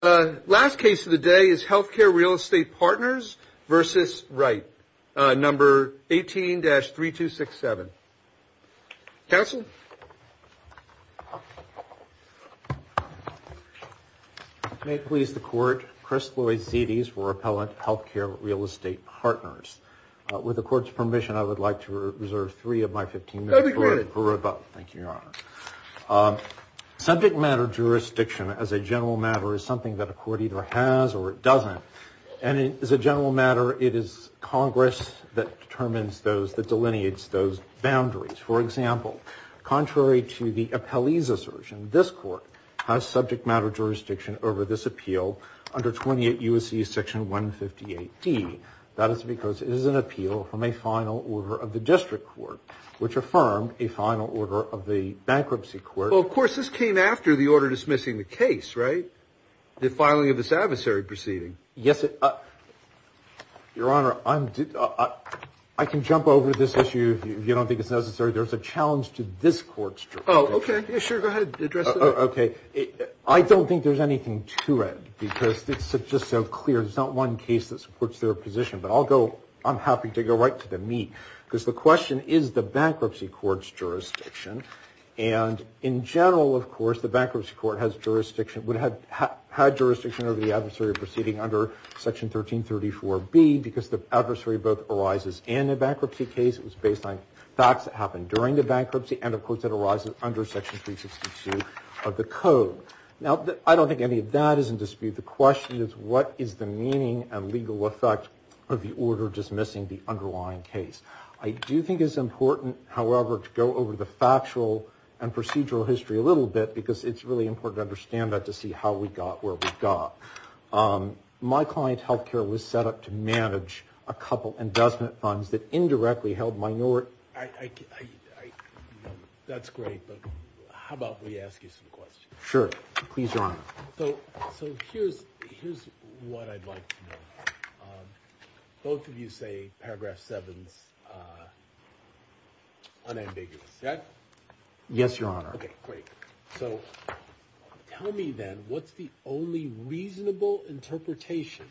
The last case of the day is Healthcare Real Estate Partners versus Wright, number 18-3267. Counsel? May it please the court, Chris Lloyd-Zedes for Appellant Healthcare Real Estate Partners. With the court's permission, I would like to reserve three of my 15 minutes for rebuttal. Thank you, Your Honor. Subject matter jurisdiction, as a general matter, is something that a court either has or it doesn't. And as a general matter, it is Congress that determines those, that delineates those boundaries. For example, contrary to the appellee's assertion, this court has subject matter jurisdiction over this appeal under 28 U.S.C. section 158D. That is because it is an appeal from a final order of the district court, which affirmed a final order of the bankruptcy court. Well, of course, this came after the order dismissing the case, right? The filing of this adversary proceeding. Yes, Your Honor, I can jump over this issue if you don't think it's necessary. There's a challenge to this court's jurisdiction. Oh, okay. Sure, go ahead. Address it. I don't think there's anything to it because it's just so clear. There's not one case that supports their position. But I'll go, I'm happy to go right to the meat because the question is the bankruptcy court's jurisdiction. And in general, of course, the bankruptcy court has jurisdiction, would have had jurisdiction over the adversary proceeding under section 1334B because the adversary both arises in a bankruptcy case. It was based on facts that happened during the bankruptcy. And, of course, it arises under section 362 of the code. Now, I don't think any of that is in dispute. The question is what is the meaning and legal effect of the order dismissing the underlying case? I do think it's important, however, to go over the factual and procedural history a little bit because it's really important to understand that to see how we got where we got. My client health care was set up to manage a couple investment funds that indirectly held minority. That's great. But how about we ask you some questions? Sure. Please, Your Honor. So here's what I'd like to know. Both of you say paragraph seven is unambiguous. Is that? Yes, Your Honor. Okay, great. So tell me then what's the only reasonable interpretation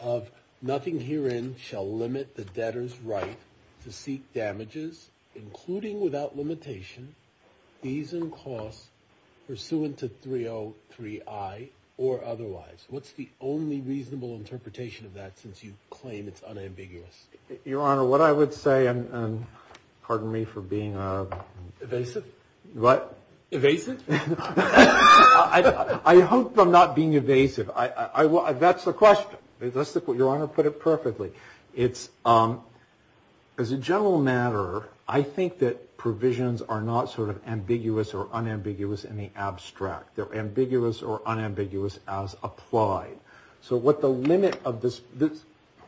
of nothing herein shall limit the debtor's right to seek damages, including without limitation, fees and costs, pursuant to 303I or otherwise? What's the only reasonable interpretation of that since you claim it's unambiguous? Your Honor, what I would say, and pardon me for being evasive. What? Evasive? I hope I'm not being evasive. That's the question. Your Honor put it perfectly. It's, as a general matter, I think that provisions are not sort of ambiguous or unambiguous in the abstract. They're ambiguous or unambiguous as applied. So what the limit of this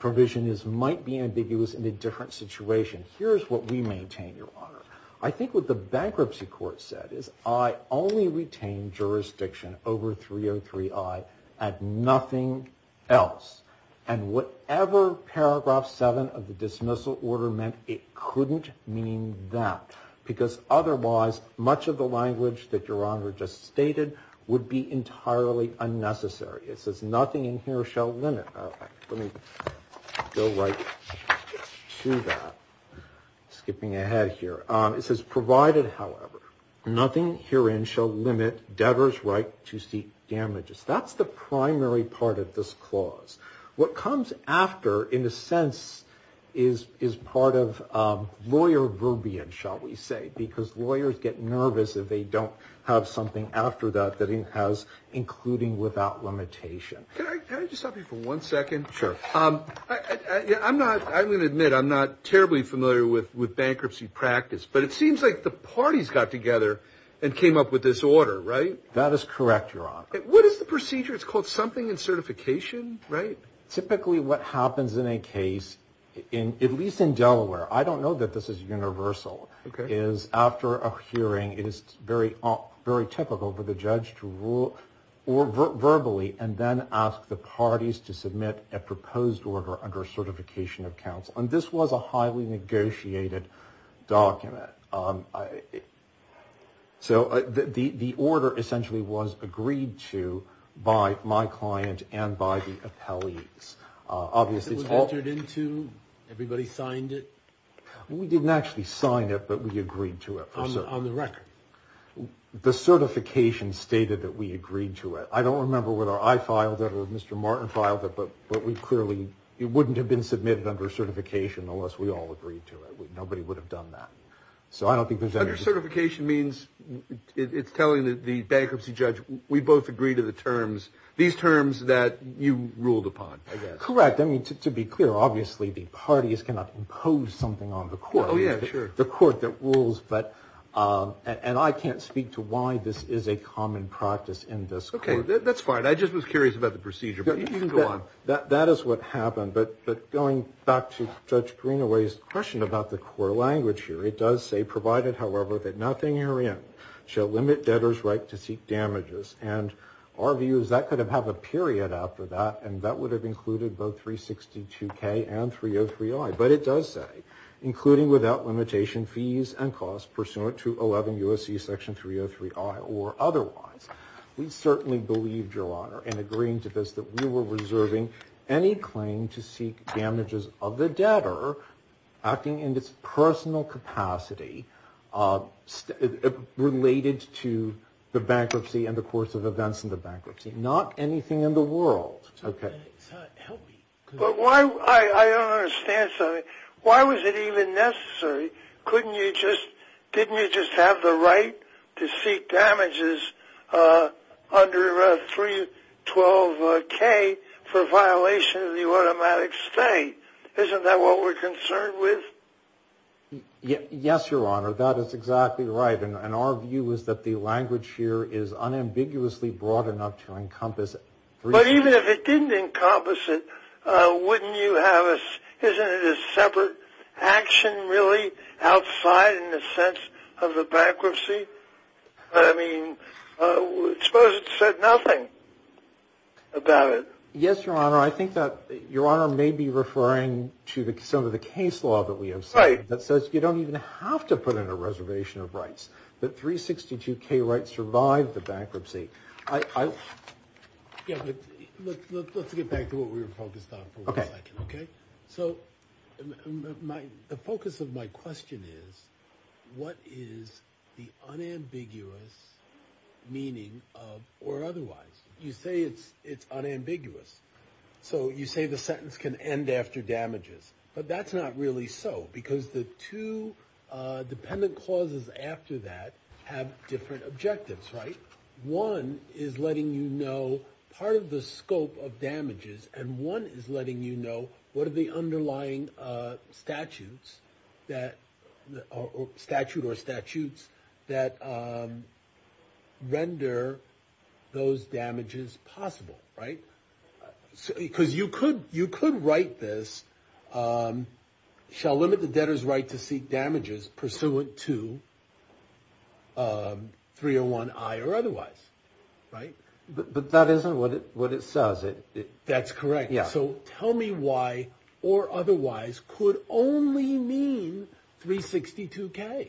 provision is might be ambiguous in a different situation. Here's what we maintain, Your Honor. I think what the bankruptcy court said is I only retain jurisdiction over 303I and nothing else. And whatever paragraph seven of the dismissal order meant, it couldn't mean that. Because otherwise, much of the language that Your Honor just stated would be entirely unnecessary. It says nothing in here shall limit. Let me go right to that. Skipping ahead here. It says provided, however, nothing herein shall limit debtor's right to seek damages. That's the primary part of this clause. What comes after, in a sense, is part of lawyer verbiage, shall we say, because lawyers get nervous if they don't have something after that that it has including without limitation. Can I just stop you for one second? Sure. I'm going to admit I'm not terribly familiar with bankruptcy practice, but it seems like the parties got together and came up with this order, right? That is correct, Your Honor. What is the procedure? It's called something in certification, right? Typically what happens in a case, at least in Delaware, I don't know that this is universal, is after a hearing it is very typical for the judge to rule verbally and then ask the parties to submit a proposed order under certification of counsel. And this was a highly negotiated document. So the order essentially was agreed to by my client and by the appellees. Was it entered into? Everybody signed it? We didn't actually sign it, but we agreed to it. On the record? The certification stated that we agreed to it. I don't remember whether I filed it or Mr. Martin filed it, but we clearly wouldn't have been submitted under certification unless we all agreed to it. Nobody would have done that. Under certification means it's telling the bankruptcy judge, we both agree to the terms, these terms that you ruled upon, I guess. Correct. To be clear, obviously the parties cannot impose something on the court, the court that rules. And I can't speak to why this is a common practice in this court. Okay, that's fine. I just was curious about the procedure, but you can go on. That is what happened. But going back to Judge Greenaway's question about the core language here, it does say, provided, however, that nothing herein shall limit debtors' right to seek damages. And our view is that could have had a period after that, and that would have included both 362K and 303I. But it does say, including without limitation, fees and costs pursuant to 11 U.S.C. section 303I or otherwise. We certainly believed, Your Honor, in agreeing to this, that we were reserving any claim to seek damages of the debtor acting in its personal capacity related to the bankruptcy and the course of events in the bankruptcy. Not anything in the world. Okay. But I don't understand something. Why was it even necessary? Couldn't you just, didn't you just have the right to seek damages under 312K for violation of the automatic stay? Isn't that what we're concerned with? Yes, Your Honor. That is exactly right. And our view is that the language here is unambiguously broad enough to encompass it. But even if it didn't encompass it, wouldn't you have a, isn't it a separate action, really, outside in the sense of the bankruptcy? I mean, suppose it said nothing about it. Yes, Your Honor. I think that Your Honor may be referring to some of the case law that we have seen. Right. That says you don't even have to put in a reservation of rights. But 362K rights survive the bankruptcy. Yeah, but let's get back to what we were focused on for one second. Okay. Okay? So the focus of my question is, what is the unambiguous meaning of or otherwise? You say it's unambiguous. So you say the sentence can end after damages. But that's not really so. Because the two dependent clauses after that have different objectives, right? One is letting you know part of the scope of damages. And one is letting you know what are the underlying statutes that, statute or statutes, that render those damages possible. Right? Because you could write this, shall limit the debtor's right to seek damages pursuant to 301I or otherwise. Right? But that isn't what it says. That's correct. So tell me why or otherwise could only mean 362K.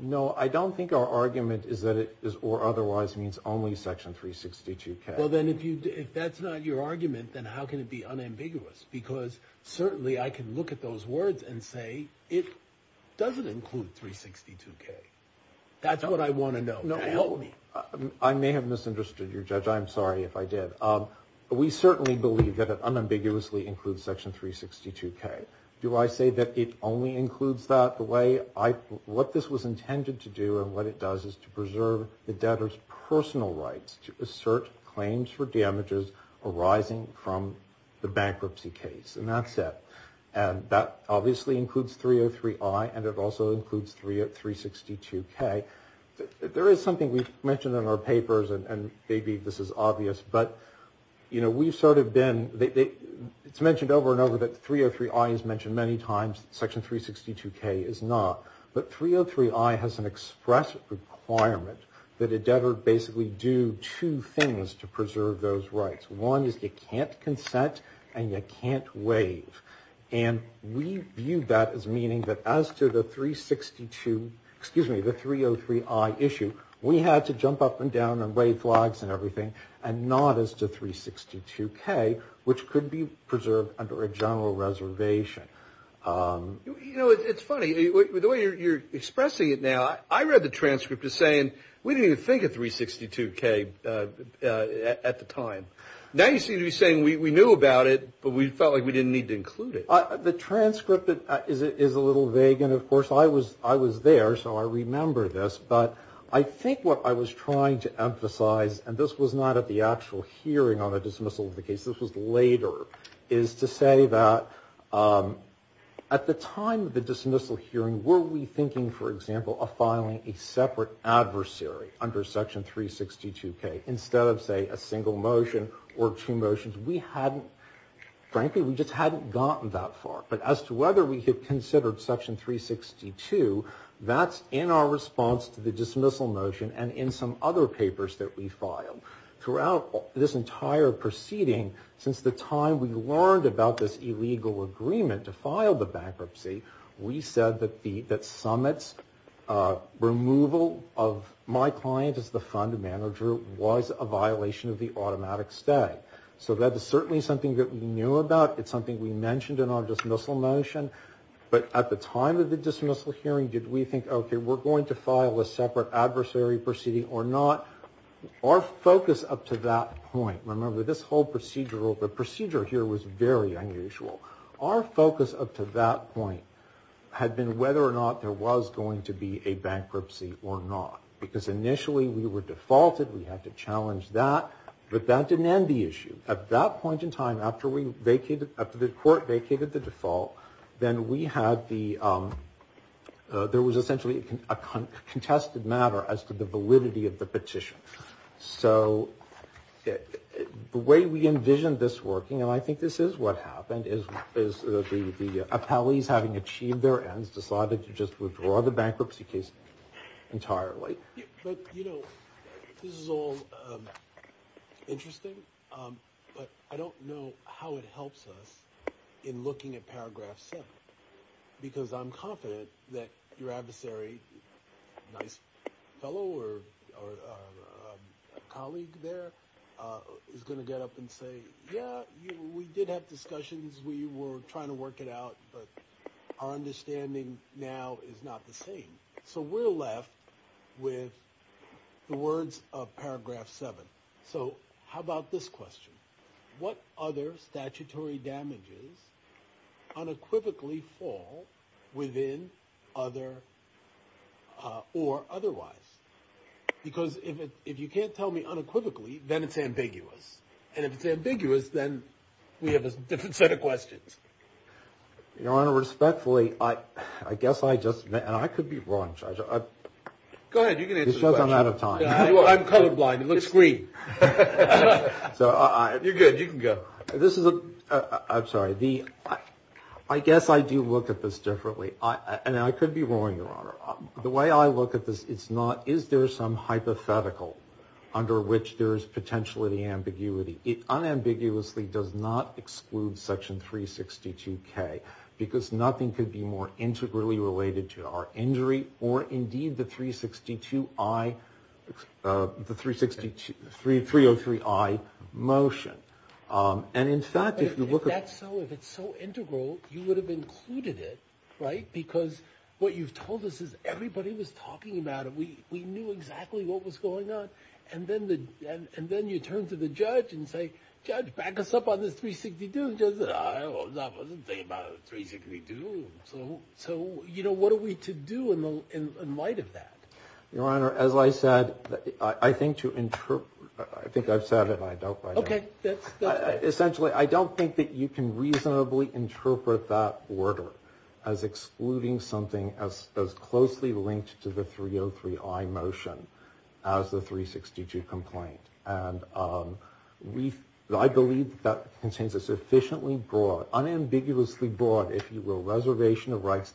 No, I don't think our argument is that it is or otherwise means only section 362K. Well, then if that's not your argument, then how can it be unambiguous? Because certainly I can look at those words and say it doesn't include 362K. That's what I want to know. Help me. I may have misunderstood you, Judge. I'm sorry if I did. We certainly believe that it unambiguously includes section 362K. Do I say that it only includes that? The way I, what this was intended to do and what it does is to preserve the debtor's personal rights to assert claims for damages arising from the bankruptcy case. And that's it. And that obviously includes 303I and it also includes 362K. There is something we've mentioned in our papers, and maybe this is obvious, but, you know, we've sort of been, it's mentioned over and over that 303I is mentioned many times, section 362K is not. But 303I has an express requirement that a debtor basically do two things to preserve those rights. One is you can't consent and you can't waive. And we view that as meaning that as to the 362, excuse me, the 303I issue, we had to jump up and down and wave flags and everything and not as to 362K, which could be preserved under a general reservation. You know, it's funny. The way you're expressing it now, I read the transcript as saying we didn't even think of 362K at the time. Now you seem to be saying we knew about it, but we felt like we didn't need to include it. The transcript is a little vague. And, of course, I was there, so I remember this. But I think what I was trying to emphasize, and this was not at the actual hearing on the dismissal of the case, this was later, is to say that at the time of the dismissal hearing, were we thinking, for example, of filing a separate adversary under section 362K instead of, say, a single motion or two motions? Frankly, we just hadn't gotten that far. But as to whether we had considered section 362, that's in our response to the dismissal motion and in some other papers that we filed. Throughout this entire proceeding, since the time we learned about this illegal agreement to file the bankruptcy, we said that Summitt's removal of my client as the fund manager was a violation of the automatic stay. So that is certainly something that we knew about. It's something we mentioned in our dismissal motion. But at the time of the dismissal hearing, did we think, okay, we're going to file a separate adversary proceeding or not? Our focus up to that point, remember, this whole procedure, the procedure here was very unusual. Our focus up to that point had been whether or not there was going to be a bankruptcy or not. Because initially we were defaulted. We had to challenge that. But that didn't end the issue. At that point in time, after the court vacated the default, then we had the ‑‑ there was essentially a contested matter as to the validity of the petition. So the way we envisioned this working, and I think this is what happened, is the appellees having achieved their ends decided to just withdraw the bankruptcy case entirely. But, you know, this is all interesting, but I don't know how it helps us in looking at paragraph 7. Because I'm confident that your adversary, nice fellow or colleague there, is going to get up and say, yeah, we did have discussions, we were trying to work it out, but our understanding now is not the same. So we're left with the words of paragraph 7. So how about this question? What other statutory damages unequivocally fall within other or otherwise? Because if you can't tell me unequivocally, then it's ambiguous. And if it's ambiguous, then we have a different set of questions. Your Honor, respectfully, I guess I just ‑‑ and I could be wrong, Judge. Go ahead, you can answer the question. It's just I'm out of time. I'm colorblind. It looks green. You're good. You can go. I'm sorry. I guess I do look at this differently. And I could be wrong, Your Honor. The way I look at this, it's not is there some hypothetical under which there is potentially ambiguity. It unambiguously does not exclude section 362K because nothing could be more integrally related to our injury or indeed the 362I ‑‑ the 303I motion. And in fact, if you look at ‑‑ If that's so, if it's so integral, you would have included it, right? Because what you've told us is everybody was talking about it. We knew exactly what was going on. And then you turn to the judge and say, Judge, back us up on this 362. The judge said, I wasn't thinking about the 362. So, you know, what are we to do in light of that? Your Honor, as I said, I think to ‑‑ I think I've said it and I don't write it down. Okay. Essentially, I don't think that you can reasonably interpret that order as excluding something as closely linked to the 303I motion as the 362 complaint. And I believe that contains a sufficiently broad, unambiguously broad, if you will, reservation of rights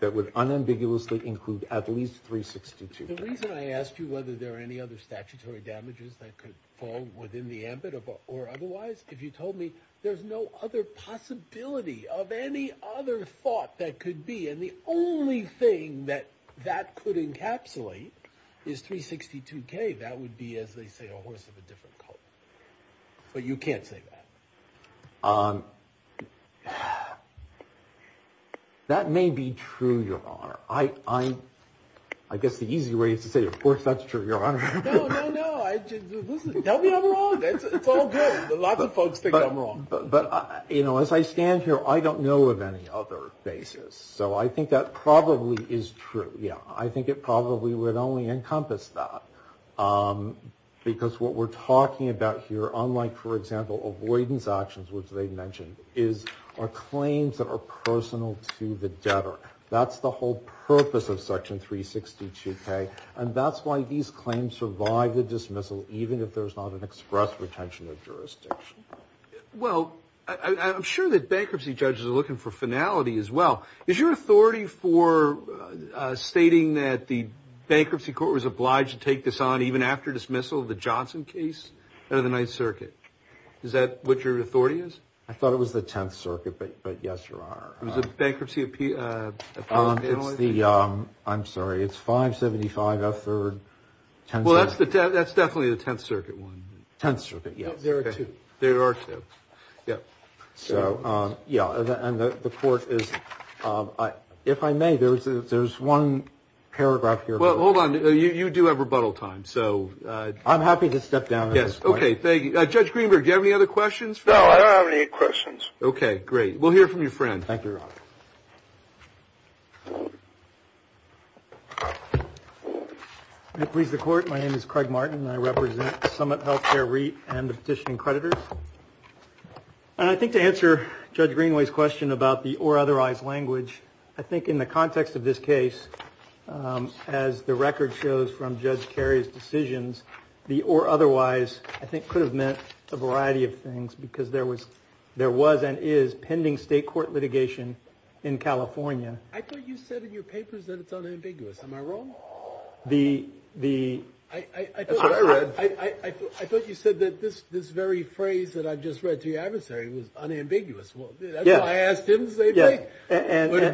that would unambiguously include at least 362K. The reason I asked you whether there are any other statutory damages that could fall within the ambit or otherwise, if you told me there's no other possibility of any other thought that could be, and the only thing that that could encapsulate is 362K, that would be, as they say, a horse of a different color. But you can't say that. That may be true, Your Honor. I guess the easy way is to say, of course, that's true, Your Honor. No, no, no. Tell me I'm wrong. It's all good. Lots of folks think I'm wrong. But, you know, as I stand here, I don't know of any other basis. So I think that probably is true. Yeah. I think it probably would only encompass that. Because what we're talking about here, unlike, for example, avoidance actions, which they mentioned, is our claims that are personal to the debtor. That's the whole purpose of Section 362K. And that's why these claims survive the dismissal, even if there's not an express retention of jurisdiction. Well, I'm sure that bankruptcy judges are looking for finality as well. Is your authority for stating that the bankruptcy court was obliged to take this on even after dismissal of the Johnson case out of the Ninth Circuit? Is that what your authority is? I thought it was the Tenth Circuit, but yes, Your Honor. It was a bankruptcy appeal? I'm sorry. It's 575F3rd. Well, that's definitely the Tenth Circuit one. Tenth Circuit, yes. There are two. There are two. Yeah. So, yeah. And the court is, if I may, there's one paragraph here. Well, hold on. You do have rebuttal time, so. I'm happy to step down at this point. Yes. Okay. Thank you. Judge Greenberg, do you have any other questions? Okay. Great. We'll hear from your friend. Thank you, Your Honor. May it please the Court, my name is Craig Martin, and I represent Summit Healthcare REIT and the petitioning creditors. And I think to answer Judge Greenway's question about the or otherwise language, I think in the context of this case, as the record shows from Judge Carey's decisions, the or otherwise, I think, could have meant a variety of things because there was and is pending state court litigation in California. I thought you said in your papers that it's unambiguous. Am I wrong? The – that's what I read. I thought you said that this very phrase that I just read to your adversary was unambiguous. Well, that's why I asked him the same thing. Yes.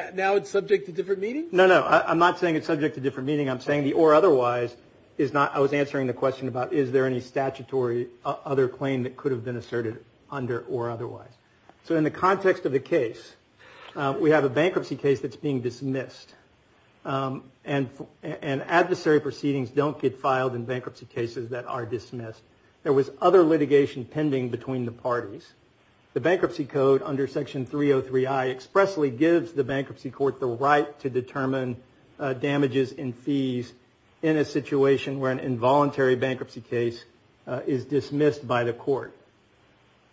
But now it's subject to different meaning? No, no. I'm not saying it's subject to different meaning. I'm saying the or otherwise is not – I was answering the question about is there any statutory other claim that could have been asserted under or otherwise. So in the context of the case, we have a bankruptcy case that's being dismissed. And adversary proceedings don't get filed in bankruptcy cases that are dismissed. There was other litigation pending between the parties. The bankruptcy code under Section 303I expressly gives the bankruptcy court the right to determine damages and fees in a situation where an involuntary bankruptcy case is dismissed by the court.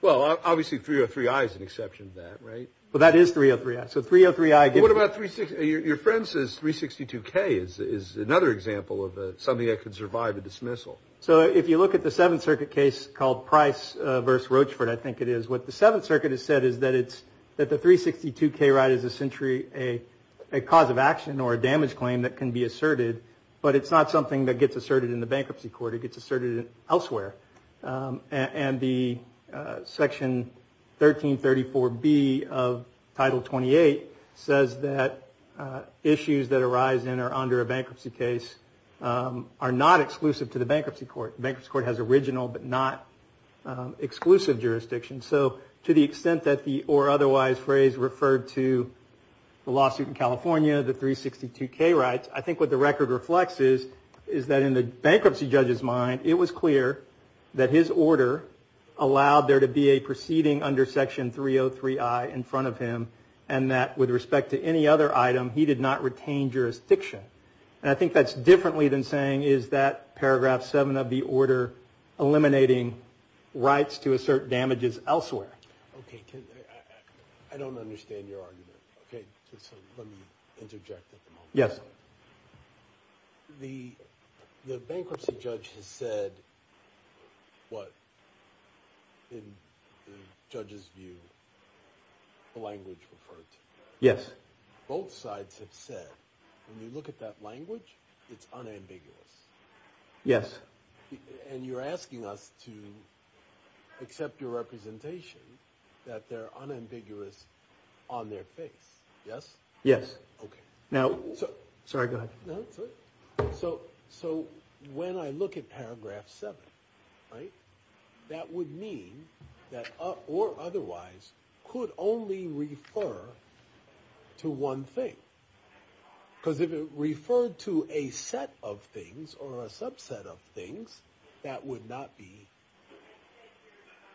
Well, obviously, 303I is an exception to that, right? Well, that is 303I. So 303I – What about – your friend says 362K is another example of something that could survive a dismissal. So if you look at the Seventh Circuit case called Price v. Rochefort, I think it is. What the Seventh Circuit has said is that it's – that the 362K right is essentially a cause of action or a damage claim that can be asserted. But it's not something that gets asserted in the bankruptcy court. It gets asserted elsewhere. And the Section 1334B of Title 28 says that issues that arise in or under a bankruptcy case are not exclusive to the bankruptcy court. The bankruptcy court has original but not exclusive jurisdictions. So to the extent that the or otherwise phrase referred to the lawsuit in California, the 362K rights, I think what the record reflects is that in the bankruptcy judge's mind, it was clear that his order allowed there to be a preceding under Section 303I in front of him and that with respect to any other item, he did not retain jurisdiction. And I think that's differently than saying is that Paragraph 7 of the order eliminating rights to assert damages elsewhere. Okay. I don't understand your argument. Okay. So let me interject at the moment. Yes. The bankruptcy judge has said what in the judge's view the language referred to. Yes. Both sides have said when you look at that language, it's unambiguous. Yes. And you're asking us to accept your representation that they're unambiguous on their face. Yes? Yes. Okay. Sorry. Go ahead. So when I look at Paragraph 7, that would mean that or otherwise could only refer to one thing. Because if it referred to a set of things or a subset of things, that would not be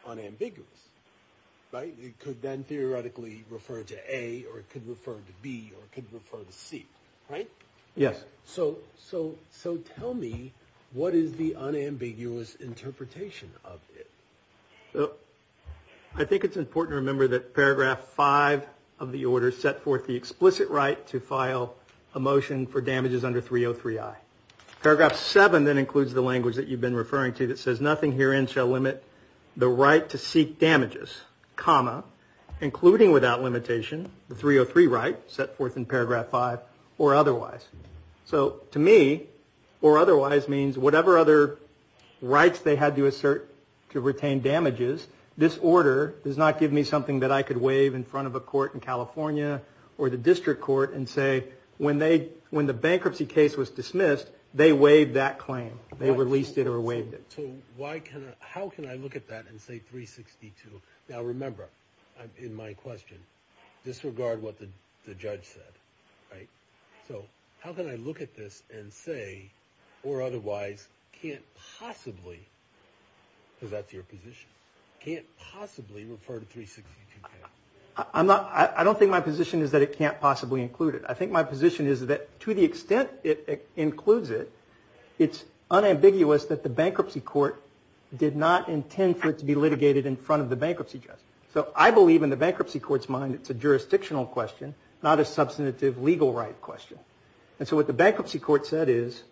unambiguous. Right? It could then theoretically refer to A or it could refer to B or it could refer to C. Right? Yes. So tell me what is the unambiguous interpretation of it? I think it's important to remember that Paragraph 5 of the order set forth the explicit right to file a motion for damages under 303I. Paragraph 7 then includes the language that you've been referring to that says nothing herein shall limit the right to seek damages, including without limitation the 303 right set forth in Paragraph 5 or otherwise. So to me or otherwise means whatever other rights they had to assert to retain damages, this order does not give me something that I could wave in front of a court in California or the district court and say when the bankruptcy case was dismissed, they waived that claim. They released it or waived it. So how can I look at that and say 362? Now remember, in my question, disregard what the judge said. Right? So how can I look at this and say or otherwise can't possibly, because that's your position, can't possibly refer to 362K? I don't think my position is that it can't possibly include it. I think my position is that to the extent it includes it, it's unambiguous that the bankruptcy court did not intend for it to be litigated in front of the bankruptcy judge. So I believe in the bankruptcy court's mind it's a jurisdictional question, not a substantive legal right question. And so what the bankruptcy court said is,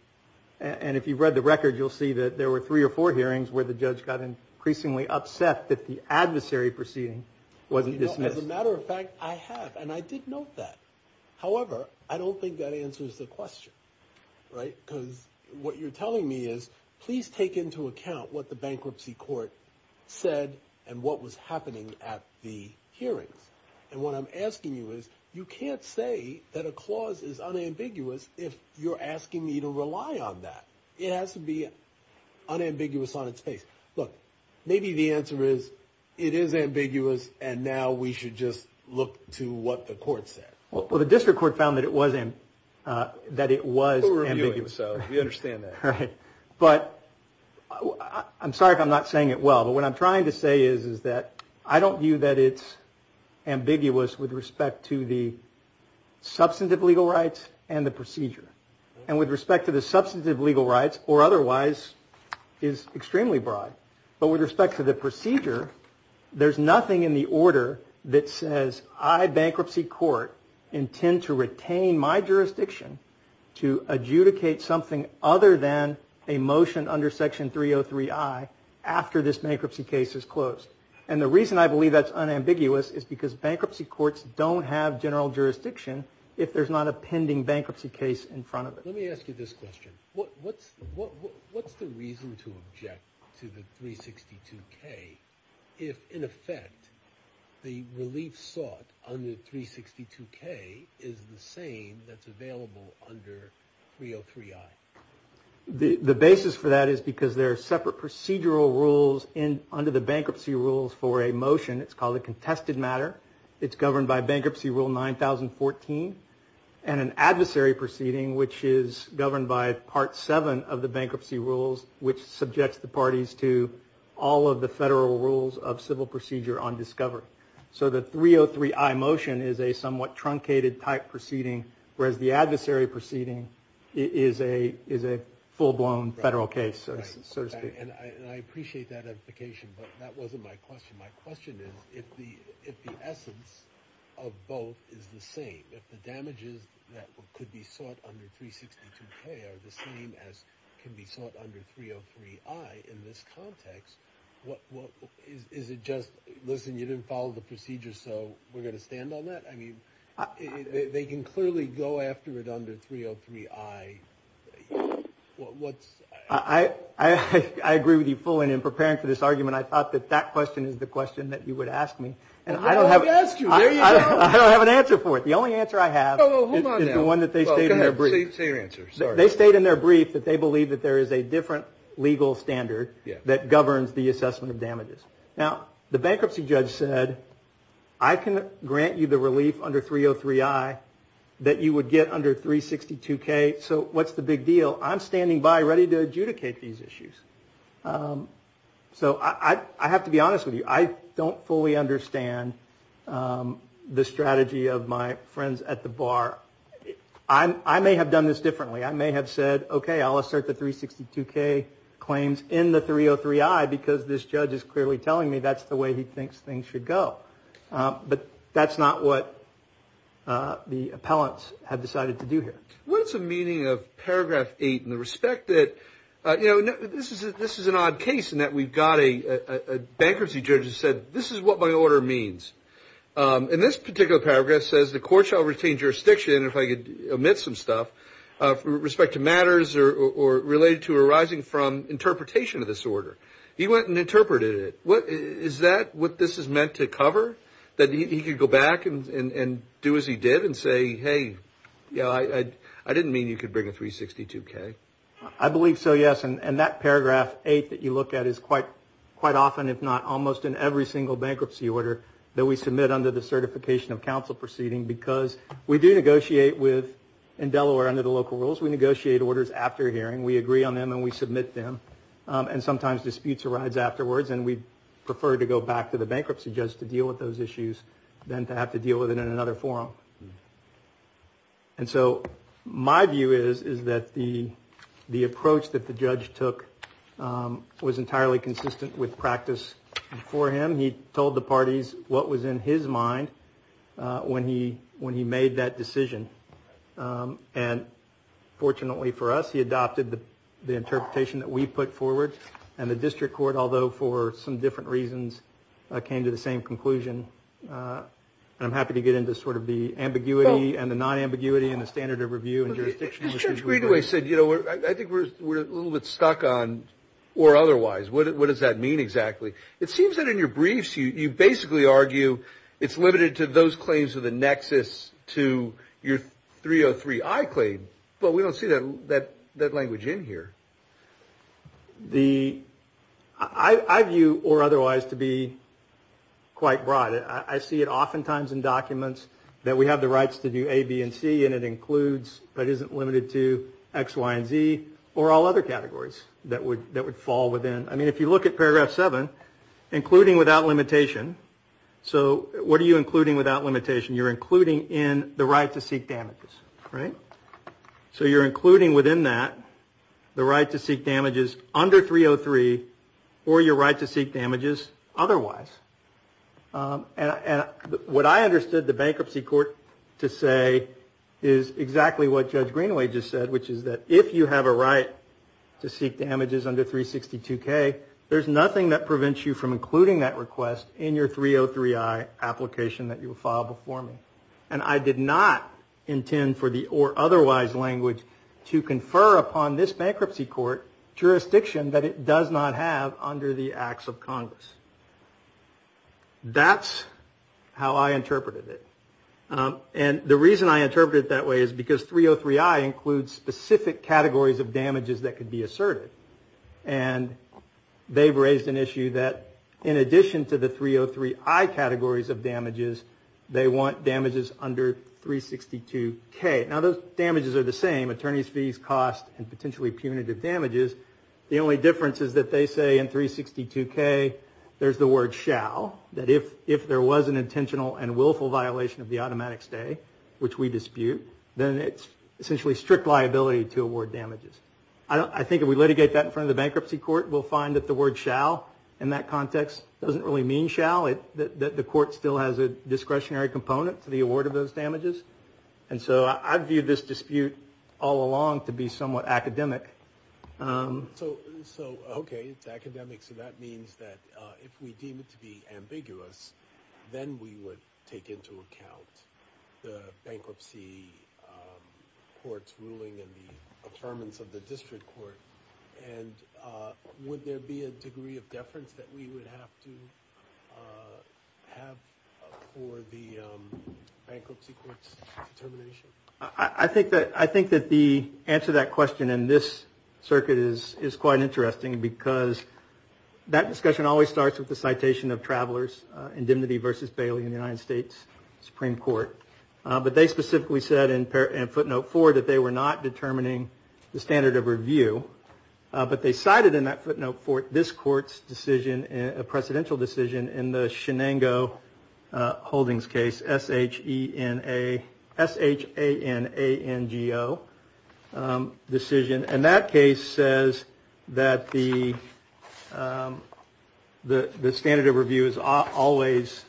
and if you've read the record, you'll see that there were three or four hearings where the judge got increasingly upset that the adversary proceeding wasn't dismissed. As a matter of fact, I have, and I did note that. However, I don't think that answers the question. Right? Because what you're telling me is, please take into account what the bankruptcy court said and what was happening at the hearings. And what I'm asking you is, you can't say that a clause is unambiguous if you're asking me to rely on that. It has to be unambiguous on its face. Look, maybe the answer is it is ambiguous, and now we should just look to what the court said. Well, the district court found that it was ambiguous. So we understand that. Right. But I'm sorry if I'm not saying it well. But what I'm trying to say is that I don't view that it's ambiguous with respect to the substantive legal rights and the procedure. And with respect to the substantive legal rights, or otherwise, is extremely broad. But with respect to the procedure, there's nothing in the order that says, I, bankruptcy court, intend to retain my jurisdiction to adjudicate something other than a motion under Section 303I after this bankruptcy case is closed. And the reason I believe that's unambiguous is because bankruptcy courts don't have general jurisdiction if there's not a pending bankruptcy case in front of them. Let me ask you this question. What's the reason to object to the 362K if, in effect, the relief sought under 362K is the same that's available under 303I? The basis for that is because there are separate procedural rules under the bankruptcy rules for a motion. It's called a contested matter. It's governed by Bankruptcy Rule 9014 and an adversary proceeding, which is governed by Part 7 of the bankruptcy rules, which subjects the parties to all of the federal rules of civil procedure on discovery. So the 303I motion is a somewhat truncated type proceeding, whereas the adversary proceeding is a full-blown federal case, so to speak. And I appreciate that edification, but that wasn't my question. My question is, if the essence of both is the same, if the damages that could be sought under 362K are the same as can be sought under 303I in this context, is it just, listen, you didn't follow the procedure, so we're going to stand on that? I mean, they can clearly go after it under 303I. I agree with you fully. In preparing for this argument, I thought that that question is the question that you would ask me. Well, we've asked you. There you go. I don't have an answer for it. The only answer I have is the one that they state in their brief. Well, go ahead. Say your answer. They state in their brief that they believe that there is a different legal standard that governs the assessment of damages. Now, the bankruptcy judge said, I can grant you the relief under 303I that you would get under 362K, so what's the big deal? I'm standing by ready to adjudicate these issues. So I have to be honest with you. I don't fully understand the strategy of my friends at the bar. I may have done this differently. I may have said, okay, I'll assert the 362K claims in the 303I because this judge is clearly telling me that's the way he thinks things should go. But that's not what the appellants have decided to do here. What's the meaning of paragraph 8 in the respect that, you know, this is an odd case in that we've got a bankruptcy judge who said, this is what my order means. And this particular paragraph says the court shall retain jurisdiction, if I could omit some stuff, with respect to matters related to arising from interpretation of this order. He went and interpreted it. Is that what this is meant to cover, that he could go back and do as he did and say, hey, I didn't mean you could bring a 362K? I believe so, yes. And that paragraph 8 that you look at is quite often, if not almost, in every single bankruptcy order that we submit under the certification of counsel proceeding because we do negotiate with, in Delaware under the local rules, we negotiate orders after hearing. We agree on them and we submit them. And sometimes disputes arise afterwards and we prefer to go back to the bankruptcy judge to deal with those issues than to have to deal with it in another forum. And so my view is that the approach that the judge took was entirely consistent with practice for him. He told the parties what was in his mind when he made that decision. And fortunately for us, he adopted the interpretation that we put forward. And the district court, although for some different reasons, came to the same conclusion. And I'm happy to get into sort of the ambiguity and the non-ambiguity and the standard of review. As Judge Greenway said, you know, I think we're a little bit stuck on or otherwise. What does that mean exactly? It seems that in your briefs you basically argue it's limited to those claims of the nexus to your 303I claim. But we don't see that language in here. I view or otherwise to be quite broad. I see it oftentimes in documents that we have the rights to do A, B, and C, and it includes but isn't limited to X, Y, and Z or all other categories that would fall within. I mean, if you look at paragraph 7, including without limitation. So what are you including without limitation? You're including in the right to seek damages, right? So you're including within that the right to seek damages under 303 or your right to seek damages otherwise. And what I understood the bankruptcy court to say is exactly what Judge Greenway just said, which is that if you have a right to seek damages under 362K, there's nothing that prevents you from including that request in your 303I application that you filed before me. And I did not intend for the or otherwise language to confer upon this bankruptcy court jurisdiction that it does not have under the Acts of Congress. That's how I interpreted it. And the reason I interpreted it that way is because 303I includes specific categories of damages that could be asserted. And they've raised an issue that in addition to the 303I categories of damages, they want damages under 362K. Now, those damages are the same, attorney's fees, cost, and potentially punitive damages. The only difference is that they say in 362K there's the word shall, that if there was an intentional and willful violation of the automatic stay, which we dispute, then it's essentially strict liability to award damages. I think if we litigate that in front of the bankruptcy court, we'll find that the word shall in that context doesn't really mean shall. The court still has a discretionary component to the award of those damages. And so I view this dispute all along to be somewhat academic. So, okay, it's academic. So that means that if we deem it to be ambiguous, then we would take into account the bankruptcy court's ruling and the determinants of the district court. And would there be a degree of deference that we would have to have for the bankruptcy court's determination? I think that the answer to that question in this circuit is quite interesting because that discussion always starts with the citation of travelers, indemnity versus bail in the United States Supreme Court. But they specifically said in footnote four that they were not determining the standard of review. But they cited in that footnote four this court's decision, a precedential decision in the Shenango Holdings case, S-H-E-N-A, S-H-A-N-A-N-G-O decision. And that case says that the standard of review is always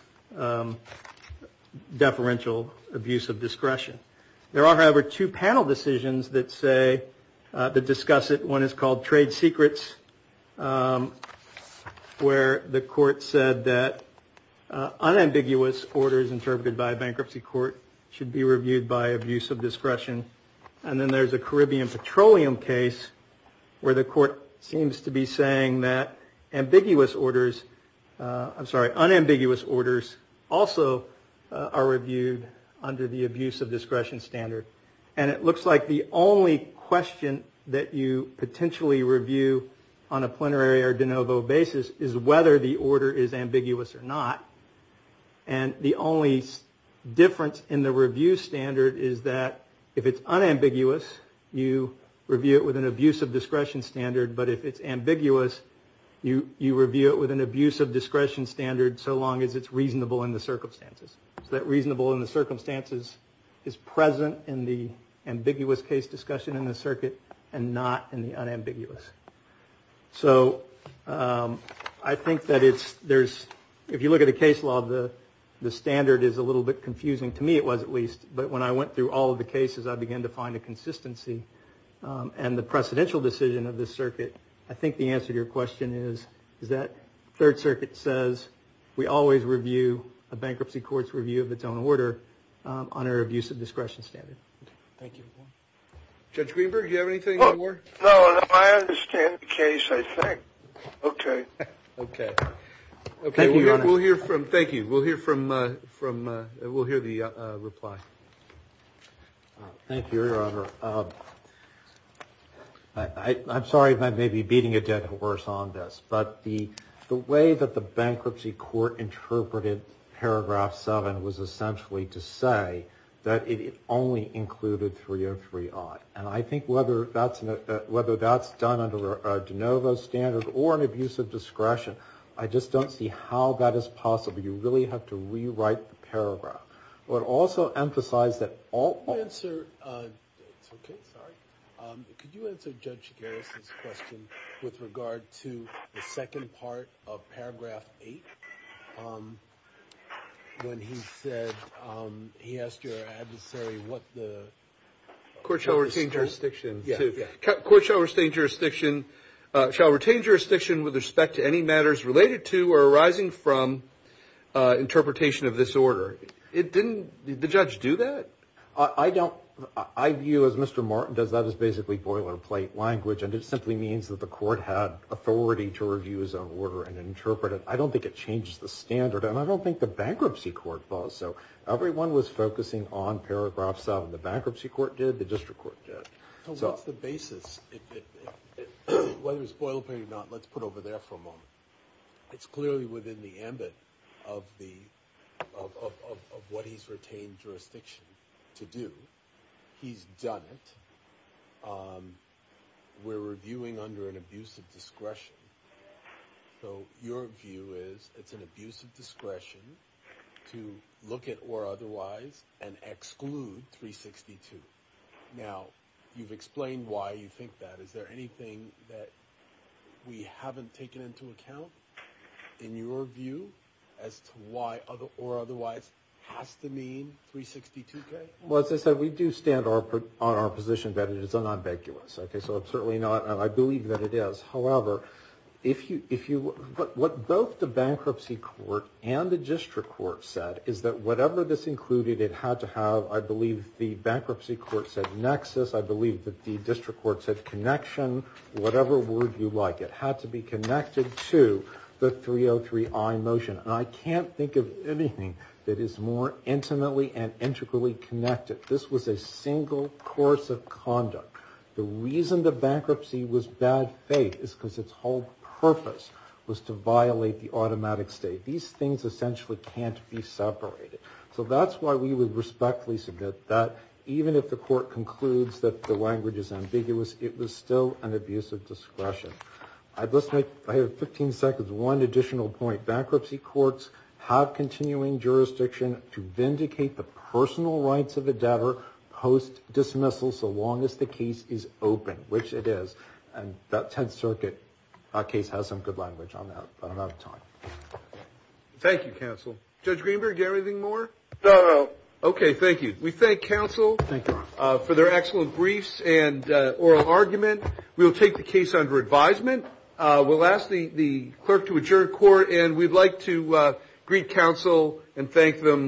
deferential abuse of discretion. There are, however, two panel decisions that discuss it. One is called trade secrets where the court said that unambiguous orders interpreted by a bankruptcy court And then there's a Caribbean petroleum case where the court seems to be saying that unambiguous orders also are reviewed under the abuse of discretion standard. And it looks like the only question that you potentially review on a plenary or de novo basis is whether the order is ambiguous or not. And the only difference in the review standard is that if it's unambiguous, you review it with an abuse of discretion standard. But if it's ambiguous, you review it with an abuse of discretion standard so long as it's reasonable in the circumstances. So that reasonable in the circumstances is present in the ambiguous case discussion in the circuit and not in the unambiguous. So I think that if you look at the case law, the standard is a little bit confusing. To me it was at least. But when I went through all of the cases, I began to find a consistency. And the precedential decision of the circuit, I think the answer to your question is that third circuit says we always review a bankruptcy court's review of its own order on an abuse of discretion standard. Thank you. Judge Greenberg, do you have anything more? No, I understand the case, I think. Okay. Thank you, Your Honor. We'll hear from. Thank you. We'll hear from. We'll hear the reply. Thank you, Your Honor. I'm sorry if I may be beating a dead horse on this. But the way that the bankruptcy court interpreted Paragraph 7 was essentially to say that it only included 303i. And I think whether that's done under a de novo standard or an abuse of discretion, I just don't see how that is possible. You really have to rewrite the paragraph. But also emphasize that all. Could you answer Judge Garrison's question with regard to the second part of Paragraph 8? When he said, he asked your adversary what the. Court shall retain jurisdiction. Court shall retain jurisdiction with respect to any matters related to or arising from interpretation of this order. It didn't, did the judge do that? I don't, I view as Mr. Martin does, that is basically boilerplate language and it simply means that the court had authority to review its own order and interpret it. I don't think it changes the standard and I don't think the bankruptcy court does. So everyone was focusing on Paragraph 7. The bankruptcy court did, the district court did. So what's the basis? Whether it's boilerplate or not, let's put it over there for a moment. It's clearly within the ambit of what he's retained jurisdiction to do. We're reviewing under an abuse of discretion. So your view is it's an abuse of discretion to look at or otherwise and exclude 362. Now, you've explained why you think that. Is there anything that we haven't taken into account in your view as to why or otherwise has to mean 362K? Well, as I said, we do stand on our position that it is unambiguous. So it's certainly not, and I believe that it is. However, what both the bankruptcy court and the district court said is that whatever this included, it had to have, I believe, the bankruptcy court said nexus. I believe that the district court said connection, whatever word you like. It had to be connected to the 303I motion. And I can't think of anything that is more intimately and integrally connected. This was a single course of conduct. The reason the bankruptcy was bad faith is because its whole purpose was to violate the automatic state. These things essentially can't be separated. So that's why we would respectfully submit that even if the court concludes that the language is ambiguous, it was still an abuse of discretion. I have 15 seconds, one additional point. Bankruptcy courts have continuing jurisdiction to vindicate the personal rights of the debtor post-dismissal so long as the case is open, which it is. And that 10th Circuit case has some good language on that. But I'm out of time. Thank you, counsel. Judge Greenberg, do you have anything more? No, no. Okay, thank you. We thank counsel for their excellent briefs and oral argument. We will take the case under advisement. We'll ask the clerk to adjourn court, and we'd like to greet counsel and thank them.